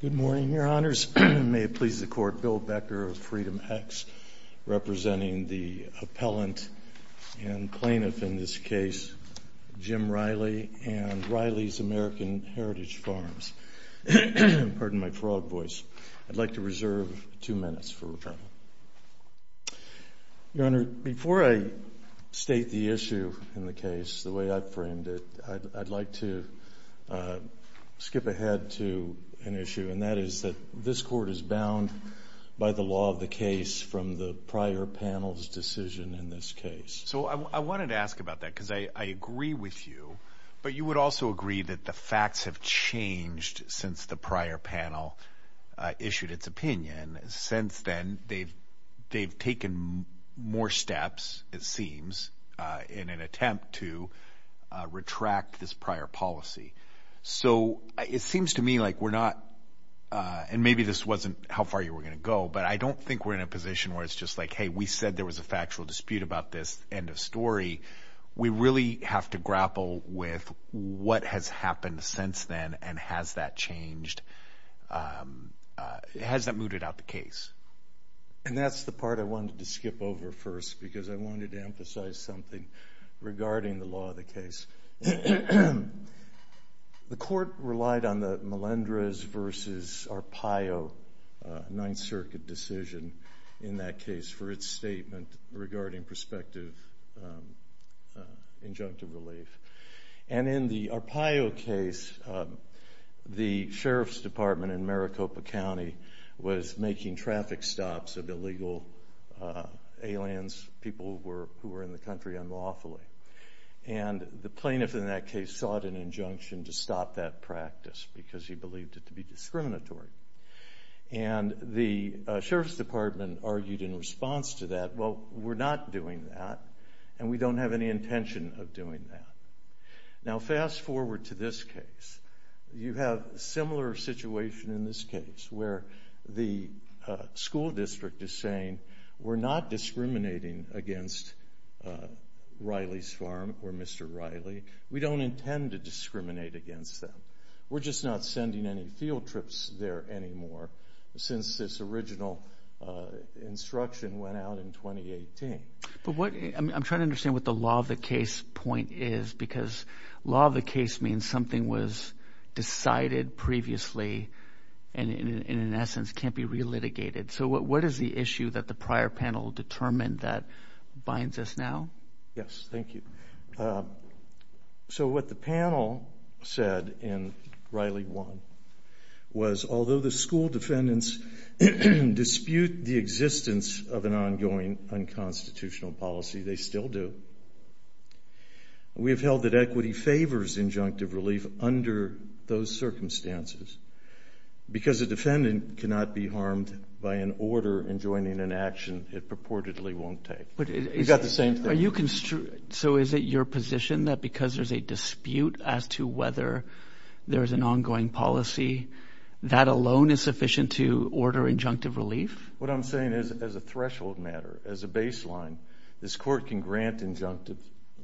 Good morning, your honors. May it please the court, Bill Becker of Freedom X, representing the appellant and plaintiff in this case, Jim Riley, and Riley's American Heritage Farms. Pardon my frog voice. I'd like to reserve two minutes for retirement. Your honor, before I state the issue in the case the way I've framed it, I'd like to skip ahead to an issue, and that is that this court is bound by the law of the case from the prior panel's decision in this case. So I wanted to ask about that because I agree with you, but you would also agree that the prior panel issued its opinion. Since then, they've taken more steps, it seems, in an attempt to retract this prior policy. So it seems to me like we're not, and maybe this wasn't how far you were going to go, but I don't think we're in a position where it's just like, hey, we said there was a factual dispute about this, end of story. We really have to grapple with what has happened since then and has that changed, has that mooted out the case. And that's the part I wanted to skip over first because I wanted to emphasize something regarding the law of the case. The court relied on the Melendrez v. Arpaio Ninth Circuit decision in that case for its statement regarding prospective injunctive relief. And in the Arpaio case, the Sheriff's Department in Maricopa County was making traffic stops of illegal aliens, people who were in the country unlawfully. And the plaintiff in that case sought an injunction to stop that practice because he believed it to be discriminatory. And the Sheriff's Department argued in response to that, well, we're not doing that and we don't have any intention of doing that. Now fast forward to this case. You have a similar situation in this case where the school district is saying, we're not discriminating against Riley's Farm or Mr. Riley. We don't intend to discriminate against them. We're just not sending any field trips there anymore since this original instruction went out in 2018. But what, I'm trying to understand what the law of the case point is because law of the case means something was decided previously and in essence can't be re-litigated. So what is the issue that the prior panel determined that binds us now? Yes, thank you. So what the panel said in Riley 1 was although the school defendants dispute the existence of an ongoing unconstitutional policy, they still do. We have held that equity favors injunctive relief under those circumstances because a defendant cannot be harmed by an order enjoining an action it purportedly won't take. We've got the same thing. So is it your position that because there's a dispute as to whether there's an ongoing policy that alone is sufficient to order injunctive relief? What I'm saying is as a threshold matter, as a baseline, this court can grant injunctive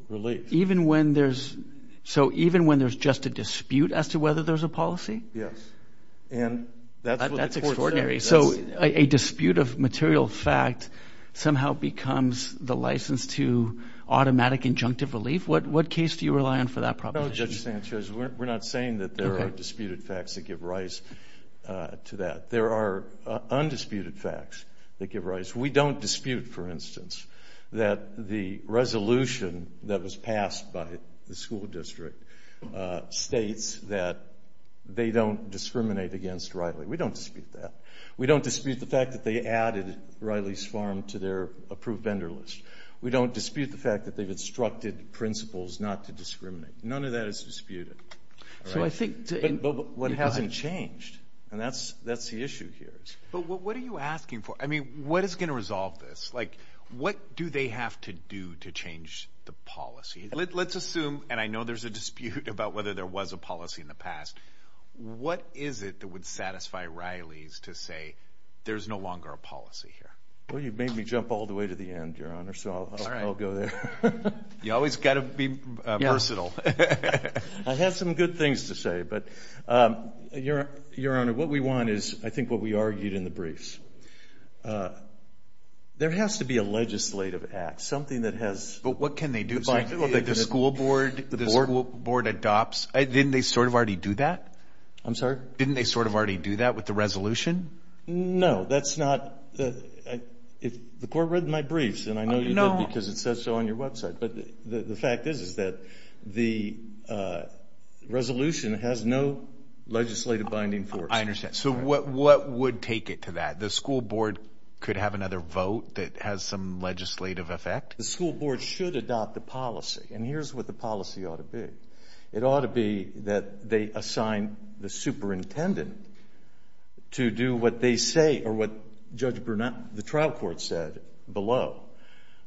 relief. Even when there's, so even when there's just a dispute as to whether there's a policy? Yes. And that's what the court said. That's extraordinary. So a dispute of material fact somehow becomes the license to automatic injunctive relief? What case do you rely on for that proposition? No, Judge Sanchez, we're not saying that there are disputed facts that give rise to that. There are undisputed facts that give rise. We don't dispute, for instance, that the resolution that was passed by the school district states that they don't discriminate against Riley. We don't dispute that. We don't dispute the fact that they added Riley's Farm to their approved vendor list. We don't dispute the fact that they've instructed principals not to discriminate. None of that is disputed. So I think to... But what hasn't changed? And that's the issue here. But what are you asking for? I mean, what is going to resolve this? Like, what do they have to do to change the policy? Let's assume, and I know there's a dispute about whether there was a policy in the past. What is it that would satisfy Riley's to say there's no longer a policy here? Well, you've made me jump all the way to the end, Your Honor, so I'll go there. You always got to be versatile. I have some good things to say, but Your Honor, what we want is, I think, what we argued in the briefs. There has to be a legislative act, something that has... But what can they do? The school board, the school board adopts... Didn't they sort of already do that? I'm sorry? Didn't they sort of already do that with the resolution? No, that's not... The court read my briefs, and I know you did, because it says so on your website. But the fact is, is that the resolution has no legislative binding force. I understand. So what would take it to that? The school board could have another vote that has some legislative effect? The school board should adopt the policy, and here's what the policy ought to be. It ought to be that they assign the superintendent to do what they say, or what Judge Brunette, the trial court said below,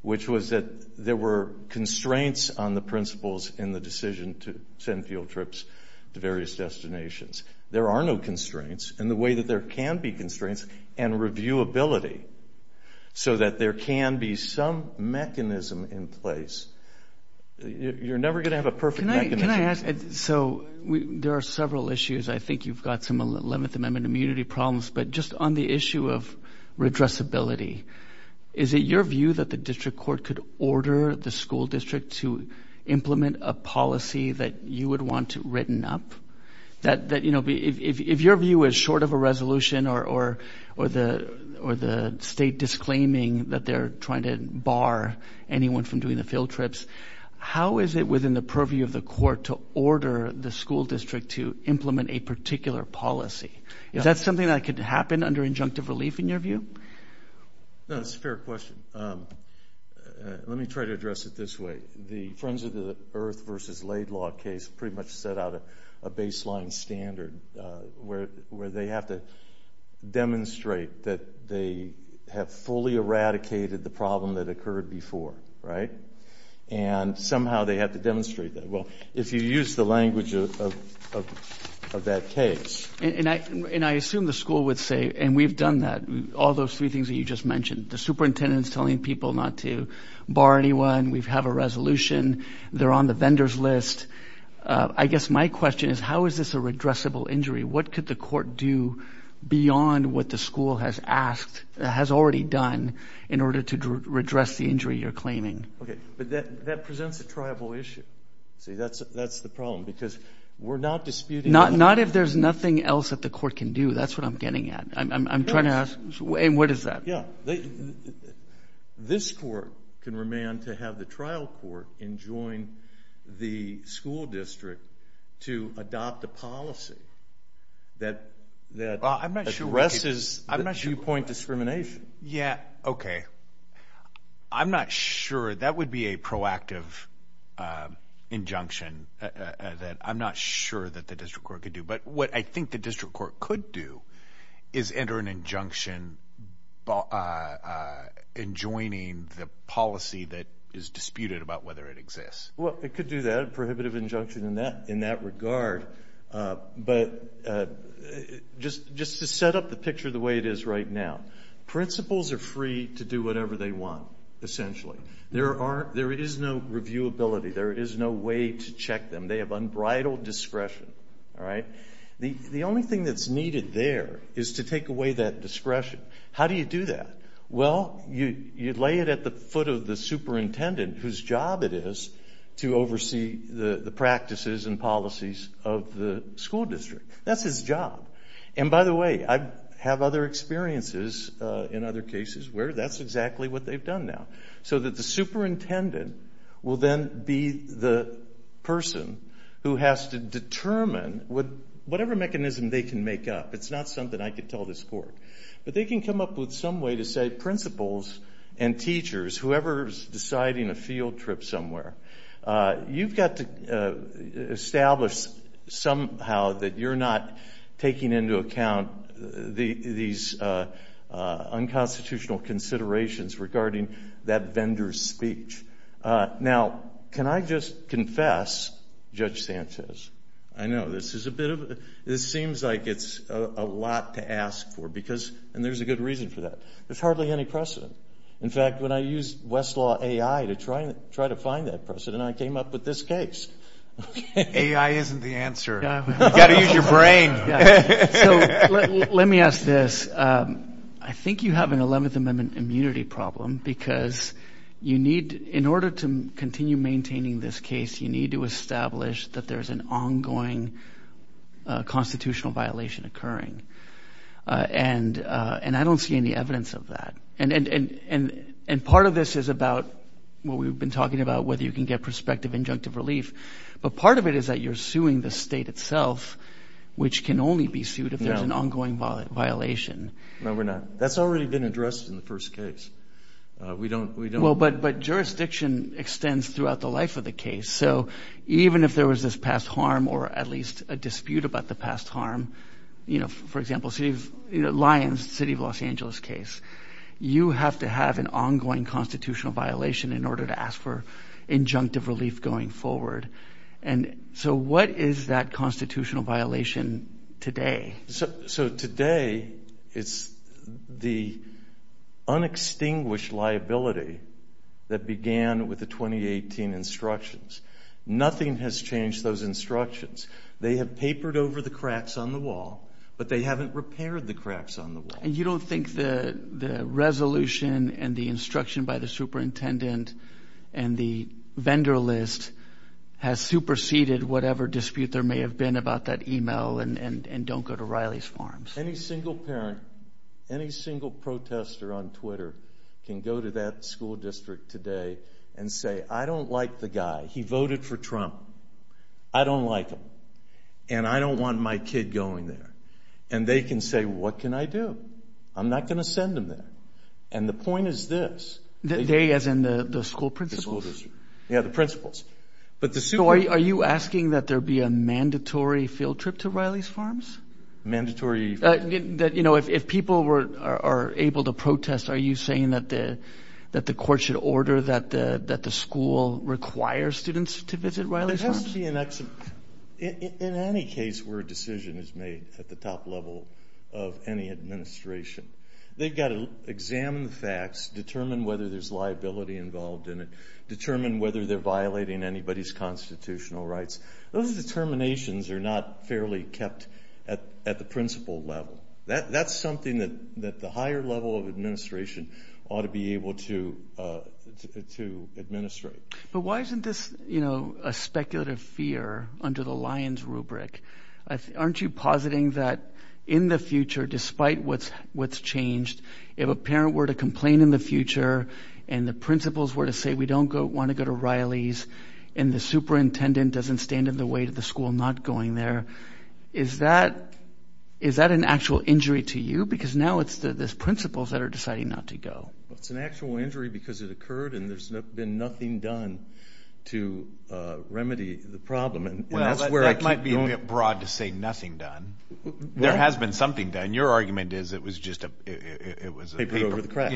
which was that there were constraints on the principles in the decision to send field trips to various destinations. There are no constraints, and the way that there can be constraints, and reviewability, so that there can be some mechanism in place. You're never going to have a perfect mechanism. So there are several issues. I think you've got some 11th Amendment immunity problems, but just on the issue of redressability, is it your view that the district court could order the school district to implement a policy that you would want to written up? If your view is short of a resolution or the state disclaiming that they're trying to bar anyone from doing the field trips, how is it within the purview of the court to order the school district to implement a particular policy? Is that something that could happen under injunctive relief in your view? No, that's a fair question. Let me try to address it this way. The Friends of the Earth v. Laidlaw case pretty much set out a baseline standard where they have to demonstrate that they have fully eradicated the problem that occurred before, right? And somehow they have to demonstrate that. Well, if you use the language of that case... And I assume the school would say, and we've done that, all those three things that you just mentioned. The superintendent is telling people not to bar anyone. We have a resolution. They're on the vendors list. I guess my question is, how is this a redressable injury? What could the court do beyond what the school has already done in order to redress the injury you're claiming? Okay, but that presents a tribal issue. See, that's the problem because we're not disputing... Not if there's nothing else that the court can do. That's what I'm getting at. I'm trying to ask, what is that? This court can remand to have the trial court enjoin the school district to adopt a policy that addresses viewpoint discrimination. Yeah, okay. I'm not sure. That would be a proactive injunction. I'm not sure that the court can do, but what I think the district court could do is enter an injunction enjoining the policy that is disputed about whether it exists. Well, it could do that, a prohibitive injunction in that regard, but just to set up the picture the way it is right now. Principals are free to do whatever they want, essentially. There is no reviewability. There is no way to check them. They have unbridled discretion. The only thing that's needed there is to take away that discretion. How do you do that? Well, you lay it at the foot of the superintendent whose job it is to oversee the practices and policies of the school district. That's his job. By the way, I have other experiences in other cases where that's exactly what they've done now, so that the superintendent will then be the person who has to determine whatever mechanism they can make up. It's not something I could tell this court, but they can come up with some way to say, principals and teachers, whoever's deciding a field trip somewhere, you've got to establish somehow that you're not taking into account these unconstitutional considerations regarding that vendor's speech. Now, can I just confess, Judge Sanchez, I know this seems like it's a lot to ask for, and there's a good reason for that. There's hardly any precedent. In fact, when I used Westlaw AI to try to find that precedent, I came up with this case. AI isn't the answer. You've got to use your brain. Let me ask this. I think you have an 11th Amendment immunity problem, because in order to continue maintaining this case, you need to establish that there's an ongoing constitutional violation occurring. I don't see any evidence of that. Part of this is about what we've been talking about, whether you can get prospective injunctive relief, but part of it is that you're suing the state itself, which can only be sued if there's an ongoing violation. No, we're not. That's already been addressed in the first case. Jurisdiction extends throughout the life of the case, so even if there was this past harm or at least a dispute about the past harm, for example, Lyons, City of Los Angeles case, you have to have an ongoing constitutional violation in order to ask for injunctive relief going forward. What is that constitutional violation today? Today, it's the unextinguished liability that began with the 2018 instructions. Nothing has changed those instructions. They have papered over the cracks on the wall, but they haven't repaired the cracks on the wall. You don't think the resolution and the instruction by the superintendent and the vendor list has superseded whatever dispute there may have been about that email and don't go to Riley's Farms? Any single parent, any single protester on Twitter can go to that school district today and say, I don't like the guy. He voted for Trump. I don't like him, and I don't want my kid going there. They can say, what can I do? I'm not going to send him there. The point is this. They as in the school principals? Yeah, the principals. Are you asking that there be a mandatory field trip to Riley's Farms? Mandatory field trip. If people are able to protest, are you saying that the court should order that the school require students to visit Riley's Farms? In any case where a decision is made at the top level of any administration, they've got to examine the facts, determine whether there's liability involved in it, determine whether they're violating anybody's constitutional rights. Those determinations are not fairly kept at the principal level. That's something that the higher level of administration ought to be able to administrate. But why isn't this a speculative fear under the lion's rubric? Aren't you positing that in the future, despite what's changed, if a parent were to complain in the future, and the principals were to say, we don't want to go to Riley's, and the superintendent doesn't stand in the way of the school not going there, is that an actual injury to you? Because now it's the principals that are deciding not to go. It's an actual injury because it occurred, and there's been nothing done to remedy the problem. That might be a bit broad to say nothing done. There has been something done. Your argument is it was just a paper. Paper over the cracks.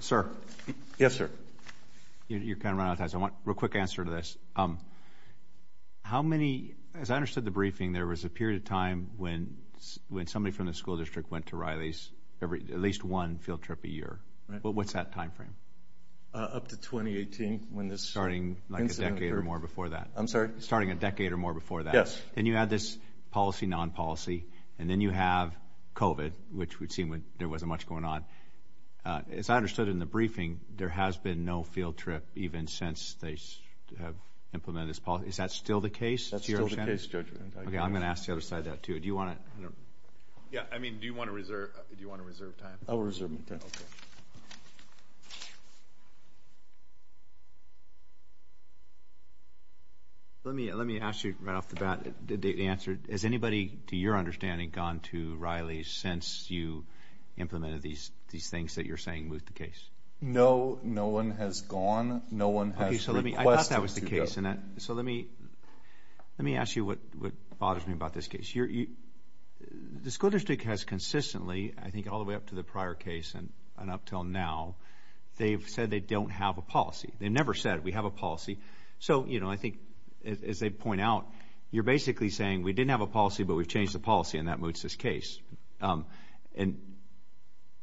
Sir. Yes, sir. You're kind of running out of time, so I want a real quick answer to this. How many, as I understood the briefing, there was a period of time when somebody from the school district went to Riley's, at least one field trip a year. What's that time frame? Up to 2018, when this incident occurred. Starting like a decade or more before that. I'm sorry? Starting a decade or more before that. Yes. Then you had this policy, non-policy, and then you have COVID, which we'd seen when there wasn't much going on. As I understood it in the briefing, there has been no field trip even since they have implemented this policy. Is that still the case? That's still the case, Judge. Okay, I'm going to ask the other side that too. Do you want to? Yeah, I mean, do you want to reserve time? I will reserve my time. Okay. Let me ask you right off the bat, the answer. Has anybody, to your understanding, gone to Riley's since you implemented these things that you're saying moved the case? No, no one has gone. No one has requested to go. I thought that was the case. Let me ask you what bothers me about this case. The school district, up until now, they've said they don't have a policy. They've never said we have a policy. So, you know, I think, as they point out, you're basically saying we didn't have a policy, but we've changed the policy, and that moves this case. And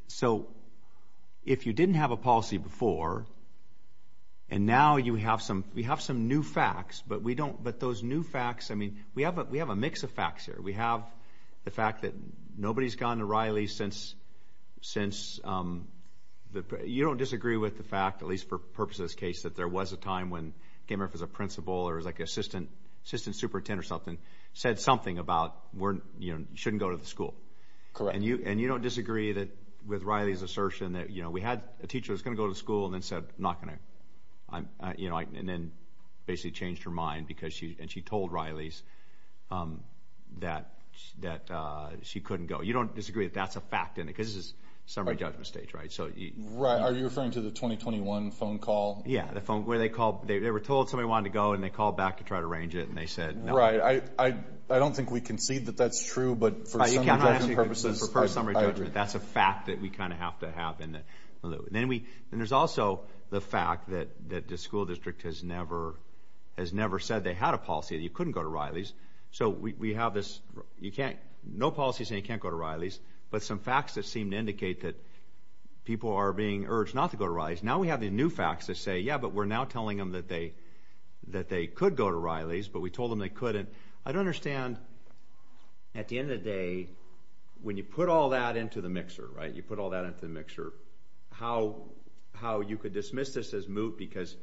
so, if you didn't have a policy before, and now you have some, we have some new facts, but we don't, but those new facts, I mean, we have a mix of facts here. We have the fact that nobody's gone to Riley's since, you don't disagree with the fact, at least for the purpose of this case, that there was a time when Game Ref as a principal, or as like an assistant superintendent or something, said something about, you know, you shouldn't go to the school. Correct. And you don't disagree with Riley's assertion that, you know, we had a teacher that was going to go to school and then said, I'm not going to, you know, and then basically changed her mind because she, and she told Riley's that she couldn't go. You don't disagree that that's a fact in it, because this is summary judgment stage, right? Right. Are you referring to the 2021 phone call? Yeah, the phone, where they called, they were told somebody wanted to go, and they called back to try to arrange it, and they said no. Right. I don't think we concede that that's true, but for some judgment purposes, I agree. That's a fact that we kind of have to have. And then we, and there's also the fact that that the school district has never, has never said they had a policy that you couldn't go to Riley's. So we have this, you can't, no policy saying you can't go to Riley's, but some facts that seem to indicate that people are being urged not to go to Riley's. Now we have the new facts that say, yeah, but we're now telling them that they, that they could go to Riley's, but we told them they couldn't. I don't understand, at the end of the day, when you put all that into the mixer, right, you put all that into the mixer, how, how you could dismiss this as moot, because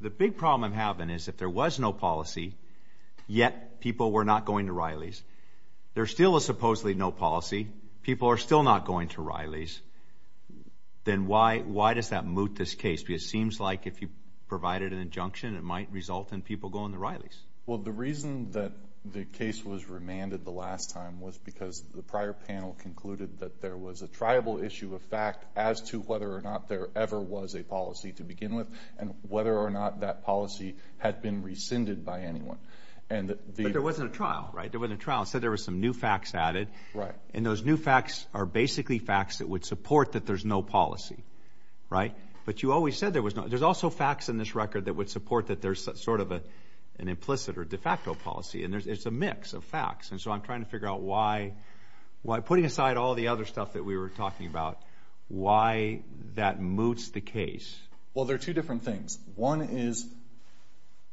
the big problem I'm having is if there was no policy, yet people were not going to Riley's, there's still a supposedly no policy, people are still not going to Riley's, then why, why does that moot this case? Because it seems like if you provided an injunction, it might result in people going to Riley's. Well, the reason that the case was remanded the last time was because the prior panel concluded that there was a tribal issue of fact as to whether or not there ever was a policy to begin with, and whether or not that policy had been rescinded by anyone, and the But there wasn't a trial, right? There wasn't a trial. It said there were some new facts added, and those new facts are basically facts that would support that there's no policy, right? But you always said there was no, there's also facts in this record that would support that there's sort of a, an implicit or de facto policy, and there's, it's a mix of facts, and so I'm trying to figure out why, why, putting aside all the other stuff that we were talking about, why that moots the case. Well, there are two different things. One is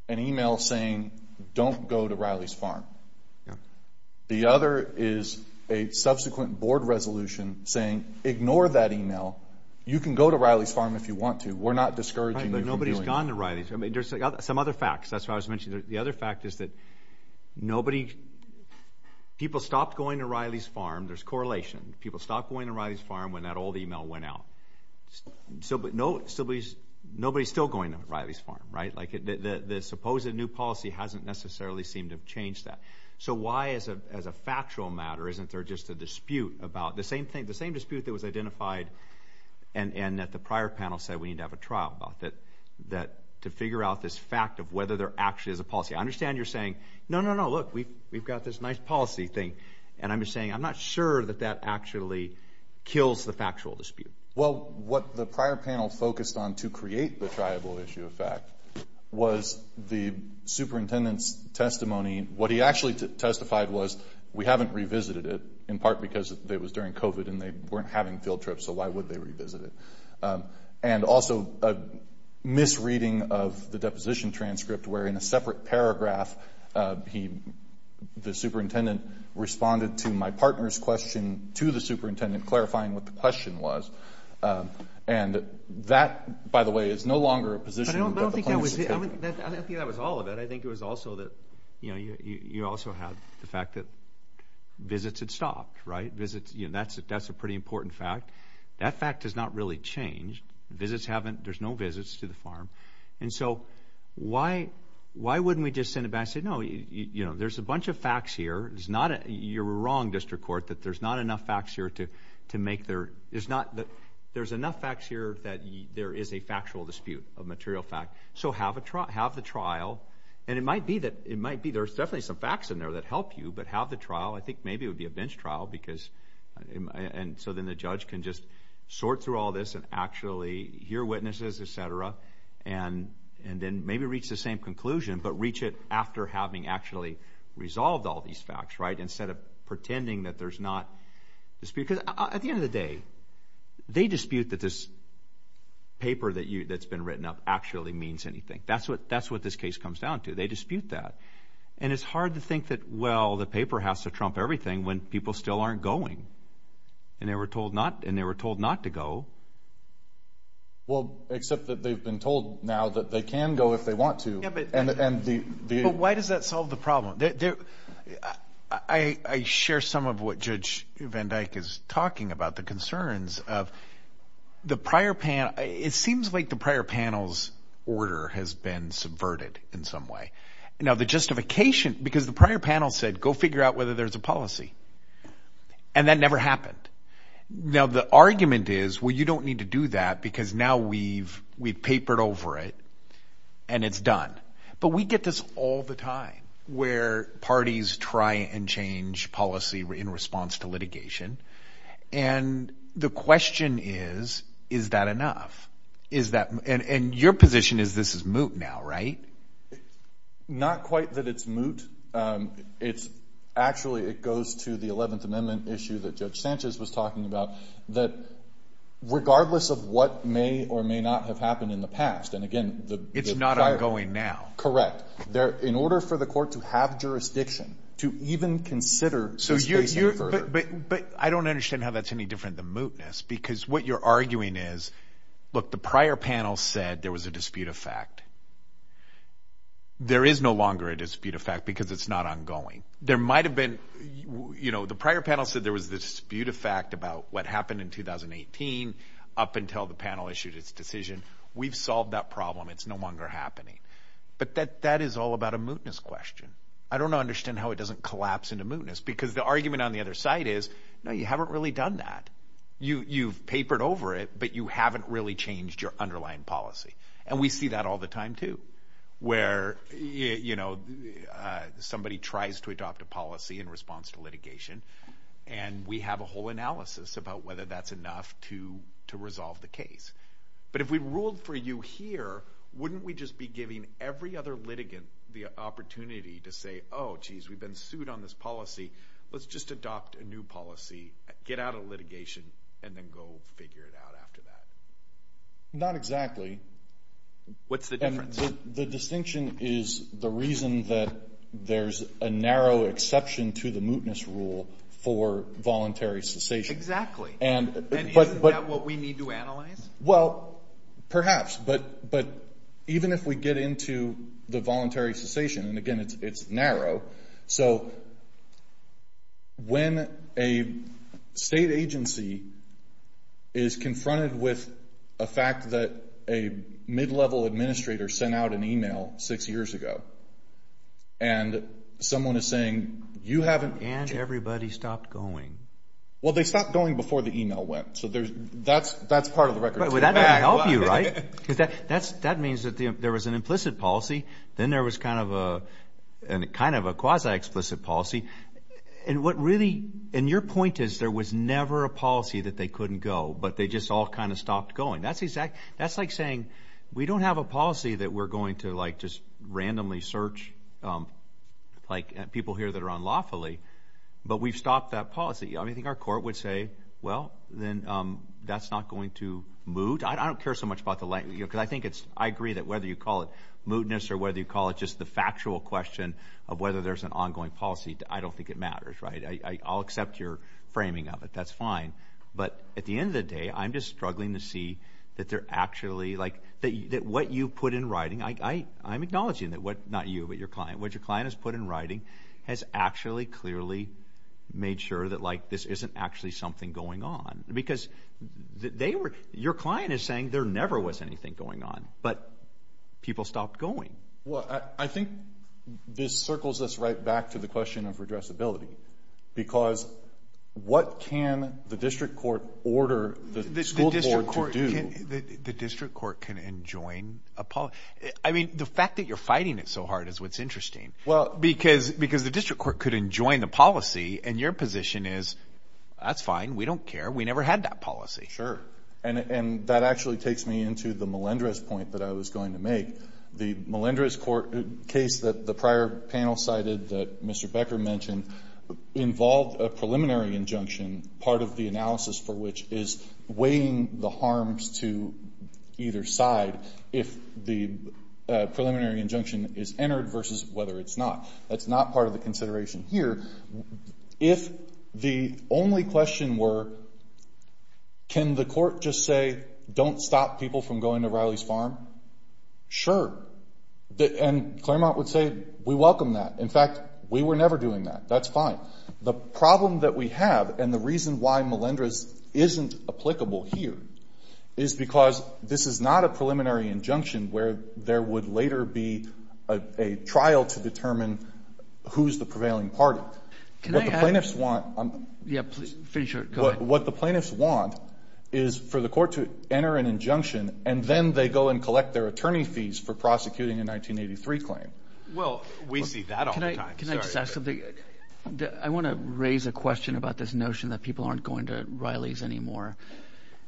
an email saying don't go to Riley's Farm. Yeah. The other is a subsequent board resolution saying ignore that email, you can go to Riley's Farm if you want to, we're not discouraging you from doing it. Right, but nobody's gone to Riley's. I mean, there's some other facts, that's why I was mentioning, the other fact is that nobody, people stopped going to Riley's Farm, there's correlation, people stopped going to Riley's Farm when that old email went out. So, but nobody's still going to Riley's Farm, right? Like, the supposed new policy hasn't necessarily seemed to have changed that. So why, as a factual matter, isn't there just a dispute about, the same thing, the same dispute that was identified, and that the prior panel said we need to have a trial about, that to figure out this fact of whether there actually is a policy. I understand you're saying, no, no, no, look, we've got this nice policy thing, and I'm just saying I'm not sure that that actually kills the factual dispute. Well, what the prior panel focused on to create the triable issue of fact was the superintendent's testimony, what he actually testified was we haven't revisited it, in part because it was during COVID, and they weren't having field trips, so why would they revisit it? And also, a misreading of the deposition transcript, where in a separate paragraph, he, the superintendent responded to my partner's question to the superintendent, clarifying what the question was. And that, by the way, is no longer a position that the plaintiff should take. But I don't think that was, I don't think that was all of it. I think it was also that, you know, you also have the fact that visits had stopped, right? Visits, you know, that's a pretty important fact. That fact has not really changed. Visits haven't, there's no visits to the farm. And so, why, why wouldn't we just send it back and say, no, you know, there's a bunch of facts here, it's not, you're wrong, District Court, that there's not enough facts here to make their, there's not, there's enough facts here that there is a factual dispute of material fact. So have a trial, have the trial, and it might be that, it might be, there's definitely some facts in there that help you, but have the trial. I think maybe it would be a bench trial, because, and so then the judge can just sort through all this and actually hear witnesses, et cetera, and then maybe reach the same conclusion, but reach it after having actually resolved all these facts, right? Instead of pretending that there's not, because at the end of the day, they dispute that this paper that you, that's been written up actually means anything. That's what, that's what this case comes down to. They dispute that. And it's hard to think that, well, the paper has to trump everything when people still aren't going. And they were told not, and they were told not to go. Well, except that they've been told now that they can go if they want to. Yeah, but. And the, the. But why does that solve the problem? There, I, I share some of what Judge Van Dyke is talking about, the concerns of the prior panel. It seems like the prior panel's order has been subverted in some way. Now, the justification, because the prior panel said, go figure out whether there's a policy. And that never happened. Now, the argument is, well, you don't need to do that, because now we've, we've papered over it and it's done. But we get this all the time, where parties try and change policy in response to litigation. And the question is, is that enough? Is that, and, and your position is this is moot now, right? Not quite that it's moot. It's actually, it goes to the 11th Amendment issue that Judge Sanchez was talking about, that regardless of what may or may not have happened in the past, and again, the. It's not ongoing now. Correct. There, in order for the court to have jurisdiction to even consider. So you're, you're, but, but I don't understand how that's any different than mootness, because what you're arguing is, look, the prior panel said there was a dispute of fact. There is no longer a dispute of fact because it's not ongoing. There might've been, you know, the prior panel said there was this dispute of fact about what happened in 2018 up until the panel issued its decision. We've solved that problem. It's no longer happening. But that, that is all about a mootness question. I don't understand how it doesn't collapse into mootness, because the argument on the other side is, no, you haven't really done that. You, you've papered over it, but you haven't really changed your underlying policy. And we see that all the time, too, where, you know, somebody tries to adopt a policy in response to litigation, and we have a whole analysis about whether that's enough to, to change the case. But if we ruled for you here, wouldn't we just be giving every other litigant the opportunity to say, oh, geez, we've been sued on this policy. Let's just adopt a new policy, get out of litigation, and then go figure it out after that? Not exactly. What's the difference? The distinction is the reason that there's a narrow exception to the mootness rule for voluntary cessation. Exactly. And, but, but. And isn't that what we need to analyze? Well, perhaps, but, but even if we get into the voluntary cessation, and again, it's, it's narrow. So when a state agency is confronted with a fact that a mid-level administrator sent out an email six years ago, and someone is saying, you haven't. And everybody stopped going. Well, they stopped going before the email went. So there's, that's, that's part of the record. But that doesn't help you, right? Because that, that's, that means that there was an implicit policy, then there was kind of a, kind of a quasi-explicit policy. And what really, and your point is there was never a policy that they couldn't go, but they just all kind of stopped going. That's exactly, that's like saying, we don't have a policy that we're going to, like, just randomly search, like, people here that are unlawfully. But we've stopped that policy. I mean, I think our court would say, well, then that's not going to moot. I don't care so much about the, you know, because I think it's, I agree that whether you call it mootness or whether you call it just the factual question of whether there's an ongoing policy, I don't think it matters, right? I'll accept your framing of it. That's fine. But at the end of the day, I'm just struggling to see that they're actually, like, that what you put in writing, I, I, I'm acknowledging that what, not you, but your client, what your client has put in writing has actually clearly made sure that, like, this isn't actually something going on. Because they were, your client is saying there never was anything going on, but people stopped going. Well, I think this circles us right back to the question of redressability. Because what can the district court order the school board to do? The district court can enjoin a policy. I mean, the fact that you're fighting it so hard is what's interesting. Well. Because, because the district court could enjoin the policy and your position is, that's fine. We don't care. We never had that policy. Sure. And, and that actually takes me into the Melendrez point that I was going to make. The Melendrez court case that the prior panel cited that Mr. Becker mentioned involved a either side if the preliminary injunction is entered versus whether it's not. That's not part of the consideration here. If the only question were, can the court just say, don't stop people from going to Riley's Farm? Sure. And Claremont would say, we welcome that. In fact, we were never doing that. That's fine. The problem that we have and the reason why Melendrez isn't applicable here is because this is not a preliminary injunction where there would later be a trial to determine who's the prevailing party. Can I add? What the plaintiffs want. Yeah, finish your, go ahead. What the plaintiffs want is for the court to enter an injunction and then they go and collect their attorney fees for prosecuting a 1983 claim. Well, we see that all the time. Can I just ask something? I want to raise a question about this notion that people aren't going to Riley's anymore.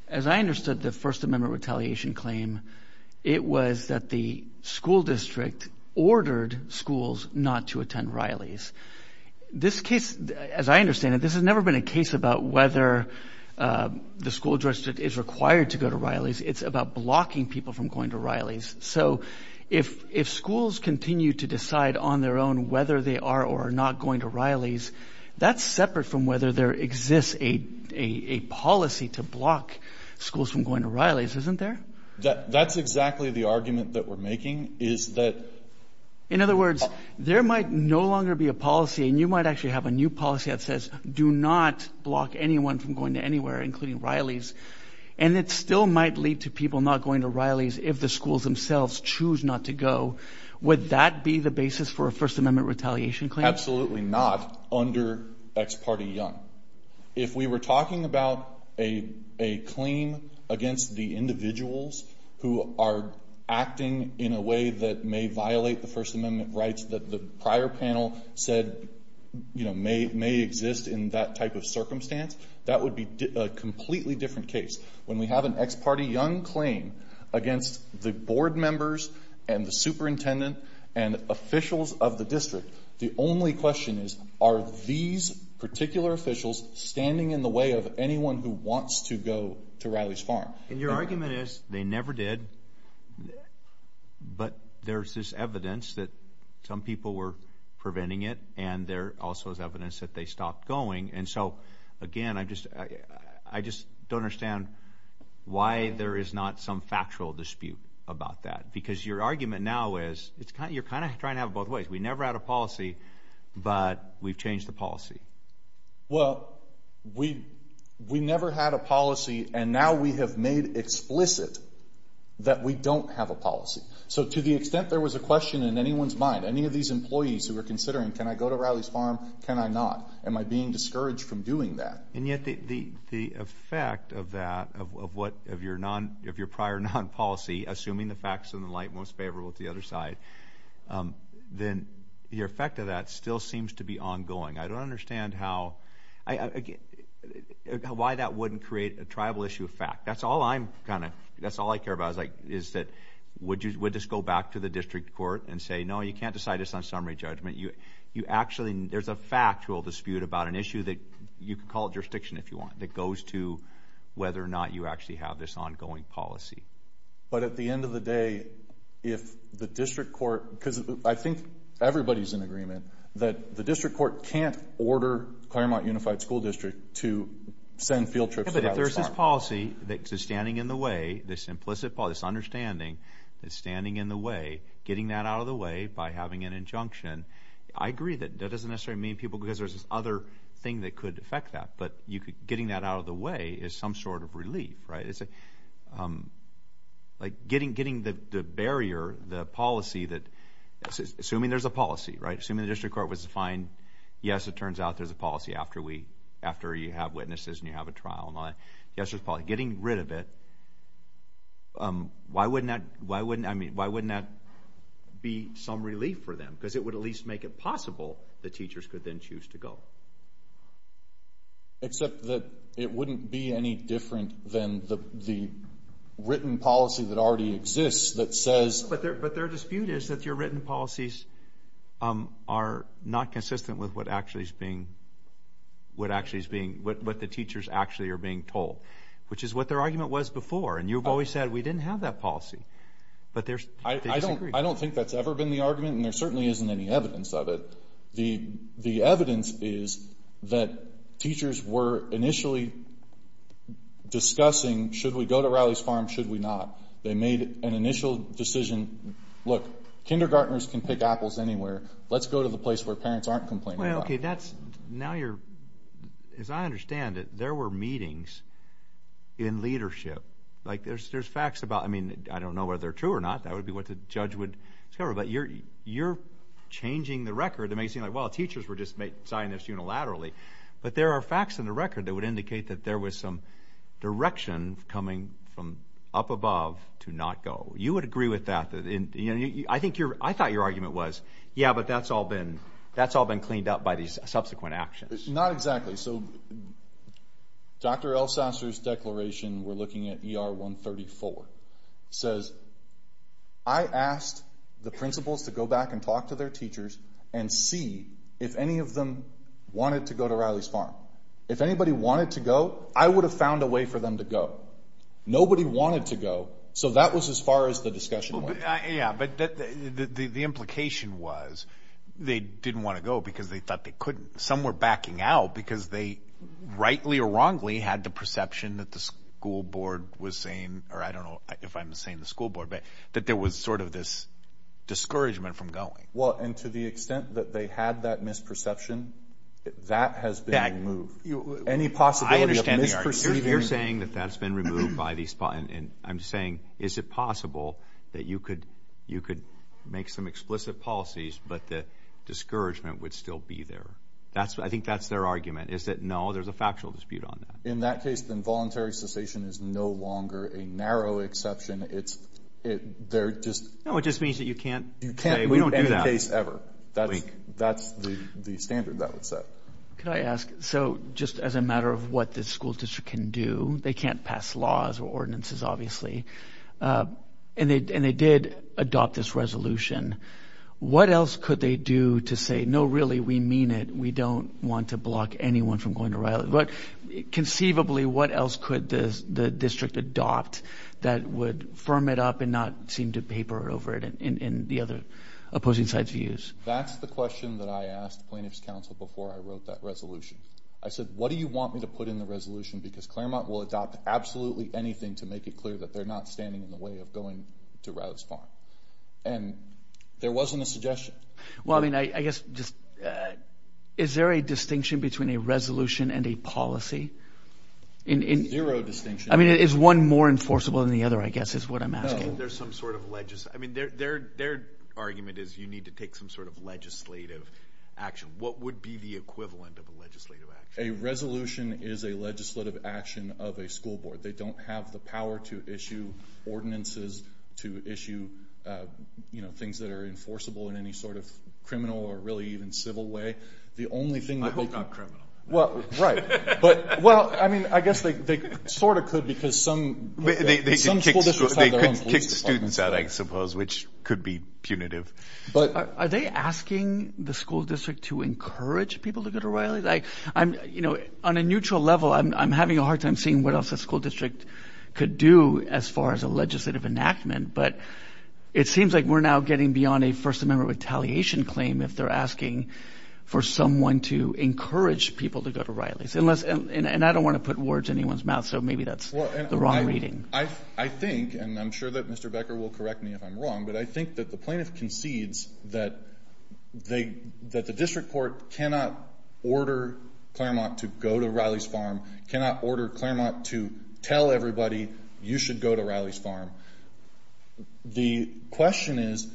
As I understood the First Amendment retaliation claim, it was that the school district ordered schools not to attend Riley's. This case, as I understand it, this has never been a case about whether the school district is required to go to Riley's. It's about blocking people from going to Riley's. So if schools continue to decide on their own whether they are or are not going to Riley's, that's separate from whether there exists a policy to block schools from going to Riley's, isn't there? That's exactly the argument that we're making, is that... In other words, there might no longer be a policy and you might actually have a new policy that says do not block anyone from going to anywhere, including Riley's, and it still might lead to people not going to Riley's if the schools themselves choose not to go. Would that be the basis for a First Amendment retaliation claim? Absolutely not under ex parte young. If we were talking about a claim against the individuals who are acting in a way that may violate the First Amendment rights that the prior panel said may exist in that type of circumstance, that would be a completely different case. When we have an ex parte young claim against the board members and the superintendent and officials of the district, the only question is are these particular officials standing in the way of anyone who wants to go to Riley's Farm? And your argument is they never did, but there's this evidence that some people were preventing it and there also is evidence that they stopped going. And so, again, I just don't understand why there is not some factual dispute about that. Because your argument now is you're kind of trying to have it both ways. We never had a policy, but we've changed the policy. Well, we never had a policy and now we have made explicit that we don't have a policy. So to the extent there was a question in anyone's mind, any of these employees who were considering can I go to Riley's Farm, can I not? Am I being discouraged from doing that? And yet the effect of that, of what, of your prior non-policy, assuming the facts in the light most favorable to the other side, then the effect of that still seems to be ongoing. I don't understand how, why that wouldn't create a tribal issue of fact. That's all I'm kind of, that's all I care about is that would this go back to the district court and say no, you can't decide this on summary judgment. You actually, there's a factual dispute about an issue that, you can call it jurisdiction if you want, that goes to whether or not you actually have this ongoing policy. But at the end of the day, if the district court, because I think everybody's in agreement, that the district court can't order Claremont Unified School District to send field trips to Riley's Farm. Yeah, but if there's this policy that's standing in the way, this implicit policy, this understanding that's standing in the way, getting that out of the way by having an injunction, I agree that that doesn't necessarily mean people, because there's this other thing that could affect that, but you could, getting that out of the way is some sort of relief, right? Like getting the barrier, the policy that, assuming there's a policy, right? Assuming the district court was defined, yes, it turns out there's a policy after we, after you have witnesses and you have a trial and all that. Yes, there's a policy. Getting rid of it, why wouldn't that, why wouldn't, I mean, why wouldn't that be some relief for them? Because it would at least make it possible the teachers could then choose to go. Except that it wouldn't be any different than the written policy that already exists that says. But their dispute is that your written policies are not consistent with what actually is being, what actually is being, what the teachers actually are being told, which is what their argument was before. And you've always said we didn't have that policy. I don't think that's ever been the argument, and there certainly isn't any evidence of it. The evidence is that teachers were initially discussing, should we go to Riley's Farm, should we not? They made an initial decision, look, kindergartners can pick apples anywhere. Let's go to the place where parents aren't complaining about it. Well, okay, that's, now you're, as I understand it, there were meetings in leadership. Like there's facts about, I mean, I don't know whether they're true or not. That would be what the judge would discover. But you're changing the record. It may seem like, well, teachers were just signing this unilaterally. But there are facts in the record that would indicate that there was some direction coming from up above to not go. You would agree with that. I think your, I thought your argument was, yeah, but that's all been, that's all been cleaned up by these subsequent actions. Not exactly. Dr. Elsasser's declaration, we're looking at ER 134, says, I asked the principals to go back and talk to their teachers and see if any of them wanted to go to Riley's Farm. If anybody wanted to go, I would have found a way for them to go. Nobody wanted to go, so that was as far as the discussion went. Yeah, but the implication was they didn't want to go because they thought they couldn't. Some were backing out because they, rightly or wrongly, had the perception that the school board was saying, or I don't know if I'm saying the school board, but that there was sort of this discouragement from going. Well, and to the extent that they had that misperception, that has been removed. Any possibility of misperceiving. You're saying that that's been removed by these, and I'm saying, is it possible that you could make some explicit policies, but the discouragement would still be there? I think that's their argument, is that, no, there's a factual dispute on that. In that case, then voluntary cessation is no longer a narrow exception. No, it just means that you can't say, we don't do that. In any case ever. That's the standard that would set. Could I ask, so just as a matter of what this school district can do, they can't pass laws or ordinances, obviously, and they did adopt this resolution. What else could they do to say, no, really, we mean it. We don't want to block anyone from going to Riley. But conceivably, what else could the district adopt that would firm it up and not seem to paper over it in the other opposing sides' views? That's the question that I asked plaintiffs' counsel before I wrote that resolution. I said, what do you want me to put in the resolution? Because Claremont will adopt absolutely anything to make it clear that they're not standing in the way of going to Riley's Farm. And there wasn't a suggestion. Well, I mean, I guess just, is there a distinction between a resolution and a policy? Zero distinction. I mean, is one more enforceable than the other, I guess, is what I'm asking. No, there's some sort of, I mean, their argument is you need to take some sort of legislative action. What would be the equivalent of a legislative action? A resolution is a legislative action of a school board. They don't have the power to issue ordinances, to issue things that are enforceable in any sort of criminal or really even civil way. I hope not criminal. Right. Well, I mean, I guess they sort of could because some school districts have their own police departments. They could kick students out, I suppose, which could be punitive. Are they asking the school district to encourage people to go to Riley's? On a neutral level, I'm having a hard time seeing what else a school district could do as far as a legislative enactment. But it seems like we're now getting beyond a First Amendment retaliation claim if they're asking for someone to encourage people to go to Riley's. And I don't want to put words in anyone's mouth, so maybe that's the wrong reading. I think, and I'm sure that Mr. Becker will correct me if I'm wrong, but I think that the plaintiff concedes that the district court cannot order Claremont to go to Riley's Farm, cannot order Claremont to tell everybody you should go to Riley's Farm. The question is,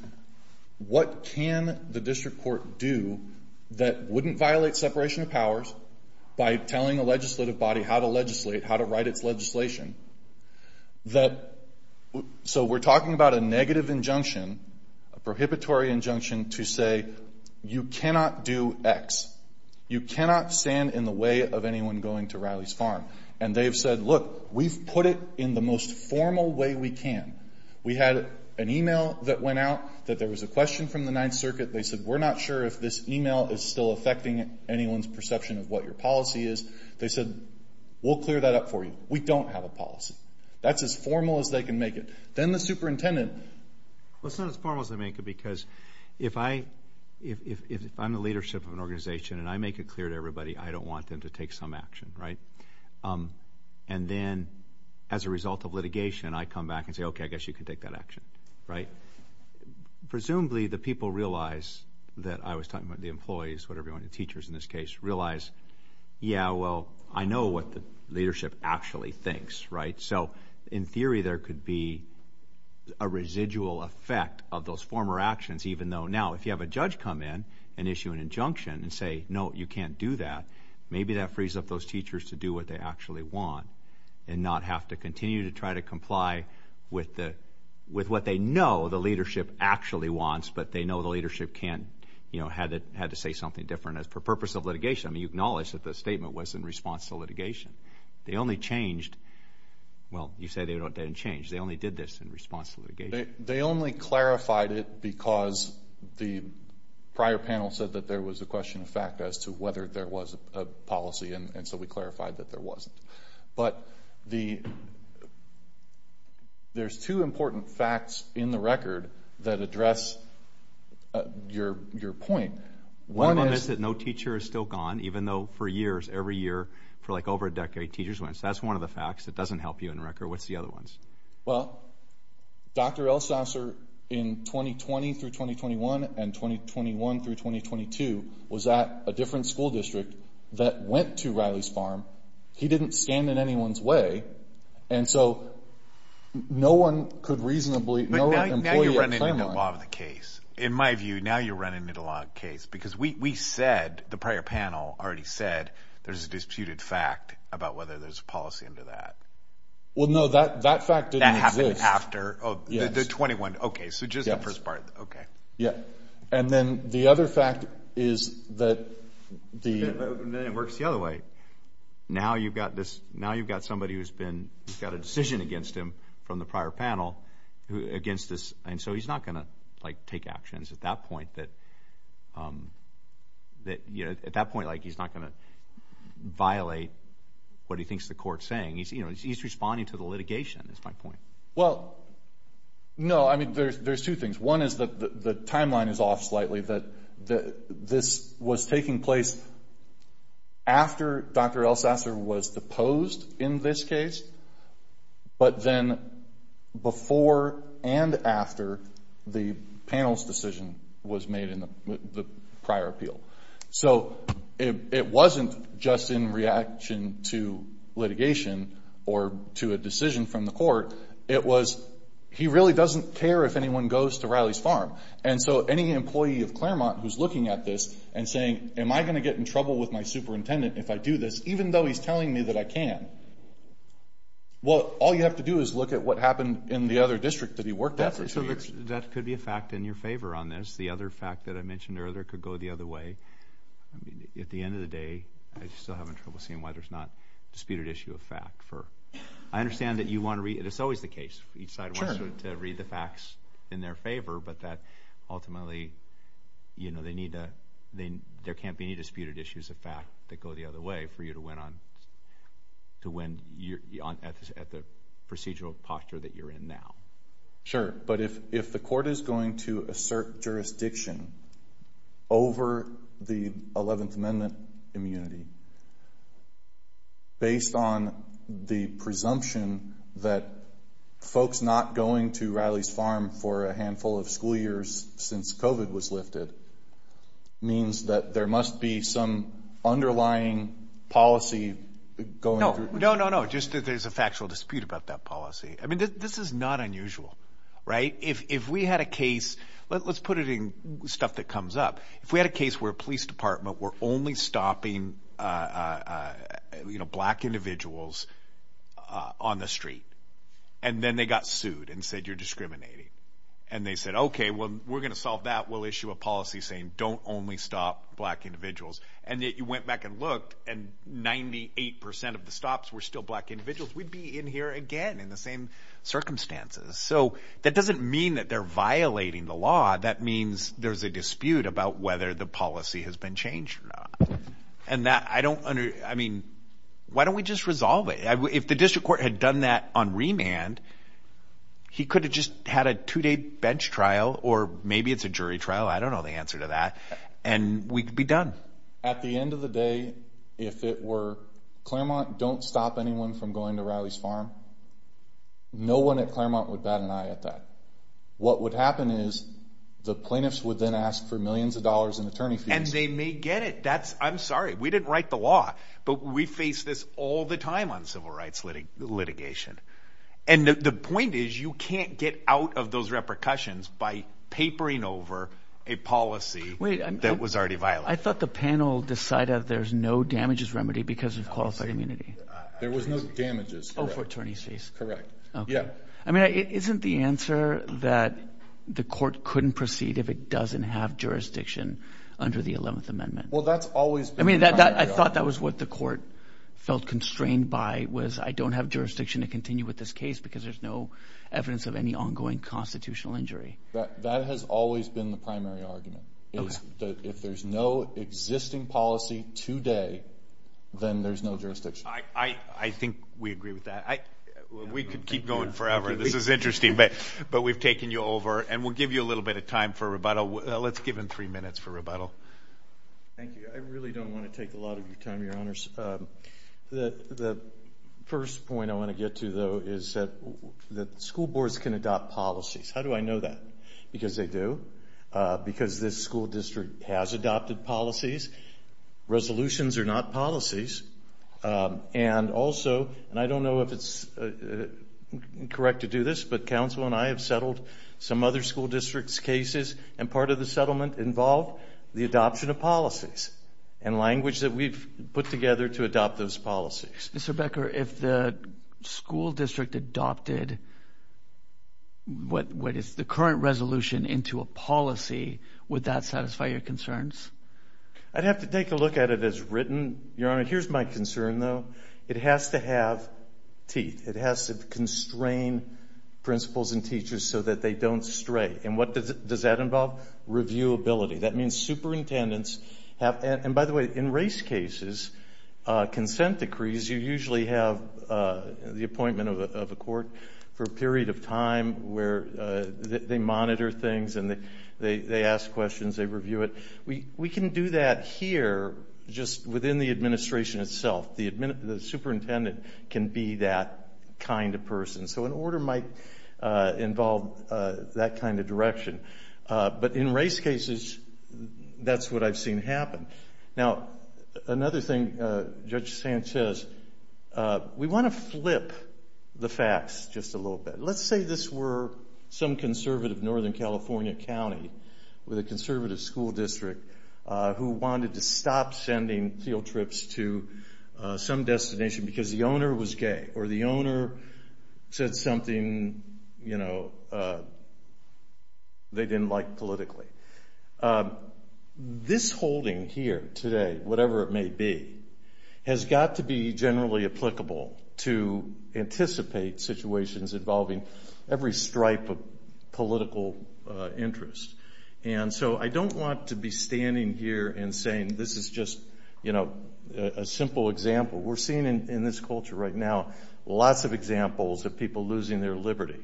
what can the district court do that wouldn't violate separation of powers by telling a legislative body how to legislate, how to write its legislation? So we're talking about a negative injunction, a prohibitory injunction to say you cannot do X. You cannot stand in the way of anyone going to Riley's Farm. And they've said, look, we've put it in the most formal way we can. We had an email that went out that there was a question from the Ninth Circuit. They said, we're not sure if this email is still affecting anyone's perception of what your policy is. They said, we'll clear that up for you. We don't have a policy. That's as formal as they can make it. Then the superintendent. Well, it's not as formal as they make it because if I'm the leadership of an organization and I make it clear to everybody, I don't want them to take some action, right? And then as a result of litigation, I come back and say, okay, I guess you can take that action, right? Presumably, the people realize that I was talking about the employees, whatever you want, the teachers in this case, realize, yeah, well, I know what the leadership actually thinks, right? So in theory, there could be a residual effect of those former actions, even though now if you have a judge come in and issue an injunction and say, no, you can't do that, maybe that frees up those teachers to do what they actually want and not have to continue to try to comply with what they know the leadership actually wants, but they know the leadership can't, you know, had to say something different for the purpose of litigation. I mean, you acknowledge that the statement was in response to litigation. They only changed. Well, you say they didn't change. They only did this in response to litigation. They only clarified it because the prior panel said that there was a question of fact as to whether there was a policy, and so we clarified that there wasn't. But there's two important facts in the record that address your point. One is that no teacher is still gone, even though for years, every year, for like over a decade, teachers went. So that's one of the facts. It doesn't help you in record. What's the other ones? Well, Dr. Elsasser, in 2020 through 2021 and 2021 through 2022, was at a different school district that went to Riley's Farm. He didn't stand in anyone's way, and so no one could reasonably, no one employee at Fenway. But now you're running into law of the case. In my view, now you're running into law of the case because we said, the prior panel already said, there's a disputed fact about whether there's a policy under that. Well, no, that fact didn't exist. That happened after? Yes. The 21? Okay, so just the first part. Yes. Okay. Yeah, and then the other fact is that the… Then it works the other way. Now you've got somebody who's got a decision against him from the prior panel against this, and so he's not going to take actions at that point. Like, he's not going to violate what he thinks the court's saying. He's responding to the litigation, is my point. Well, no, I mean, there's two things. One is that the timeline is off slightly, that this was taking place after Dr. Elsasser was deposed in this case, but then before and after the panel's decision was made in the prior appeal. So it wasn't just in reaction to litigation or to a decision from the court. It was he really doesn't care if anyone goes to Riley's Farm. And so any employee of Claremont who's looking at this and saying, am I going to get in trouble with my superintendent if I do this, even though he's telling me that I can? Well, all you have to do is look at what happened in the other district that he worked at for two years. That could be a fact in your favor on this. The other fact that I mentioned earlier could go the other way. I mean, at the end of the day, I still have trouble seeing why there's not a disputed issue of fact. I understand that you want to read it. It's always the case. Each side wants to read the facts in their favor, but that ultimately, you know, there can't be any disputed issues of fact that go the other way for you to win at the procedural posture that you're in now. Sure. But if the court is going to assert jurisdiction over the 11th Amendment immunity, based on the presumption that folks not going to Riley's Farm for a handful of school years since COVID was lifted, means that there must be some underlying policy going through. No, no, no, no. Just that there's a factual dispute about that policy. I mean, this is not unusual, right? If we had a case, let's put it in stuff that comes up. If we had a case where a police department were only stopping, you know, black individuals on the street, and then they got sued and said, you're discriminating, and they said, okay, well, we're going to solve that. We'll issue a policy saying don't only stop black individuals. And that you went back and looked and 98% of the stops were still black individuals. We'd be in here again in the same circumstances. So that doesn't mean that they're violating the law. That means there's a dispute about whether the policy has been changed or not. And that I don't I mean, why don't we just resolve it? If the district court had done that on remand, he could have just had a two-day bench trial or maybe it's a jury trial. I don't know the answer to that. And we could be done. At the end of the day, if it were Claremont, don't stop anyone from going to Riley's Farm. No one at Claremont would bat an eye at that. What would happen is the plaintiffs would then ask for millions of dollars in attorney fees. And they may get it. That's I'm sorry. We didn't write the law, but we face this all the time on civil rights litigation. And the point is you can't get out of those repercussions by papering over a policy that was already violent. I thought the panel decided there's no damages remedy because of qualified immunity. There was no damages. Oh, for attorney fees. Correct. Yeah. I mean, isn't the answer that the court couldn't proceed if it doesn't have jurisdiction under the 11th Amendment? Well, that's always been the primary argument. I mean, I thought that was what the court felt constrained by was I don't have jurisdiction to continue with this case because there's no evidence of any ongoing constitutional injury. That has always been the primary argument. If there's no existing policy today, then there's no jurisdiction. I think we agree with that. We could keep going forever. This is interesting. But we've taken you over. And we'll give you a little bit of time for rebuttal. Let's give him three minutes for rebuttal. Thank you. I really don't want to take a lot of your time, Your Honors. The first point I want to get to, though, is that school boards can adopt policies. How do I know that? Because they do. Because this school district has adopted policies. Resolutions are not policies. And also, and I don't know if it's correct to do this, but counsel and I have settled some other school district's cases, and part of the settlement involved the adoption of policies and language that we've put together to adopt those policies. Mr. Becker, if the school district adopted the current resolution into a policy, would that satisfy your concerns? I'd have to take a look at it as written, Your Honor. Here's my concern, though. It has to have teeth. It has to constrain principals and teachers so that they don't stray. And what does that involve? Reviewability. That means superintendents have to have them. And, by the way, in race cases, consent decrees, you usually have the appointment of a court for a period of time where they monitor things and they ask questions, they review it. We can do that here just within the administration itself. The superintendent can be that kind of person. So an order might involve that kind of direction. But in race cases, that's what I've seen happen. Now, another thing Judge Sands says, we want to flip the facts just a little bit. Let's say this were some conservative northern California county with a conservative school district who wanted to stop sending field trips to some destination because the owner was gay or the owner said something they didn't like politically. This holding here today, whatever it may be, has got to be generally applicable to anticipate situations involving every stripe of political interest. And so I don't want to be standing here and saying this is just a simple example. We're seeing in this culture right now lots of examples of people losing their liberty.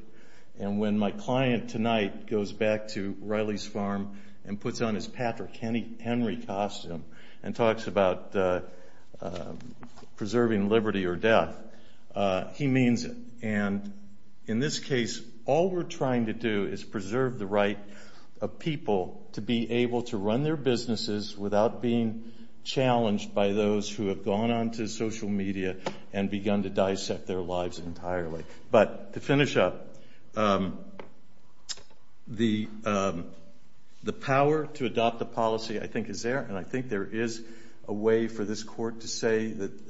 And when my client tonight goes back to Riley's Farm and puts on his Patrick Henry costume and talks about preserving liberty or death, he means it. And in this case, all we're trying to do is preserve the right of people to be able to run their businesses without being challenged by those who have gone on to social media and begun to dissect their lives entirely. But to finish up, the power to adopt a policy I think is there, and I think there is a way for this court to say that the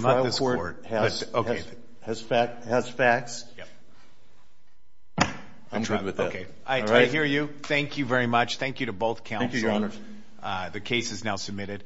trial court has facts. I'm good with that. I hear you. Thank you very much. Thank you to both counsel. Thank you, Your Honor. The case is now submitted.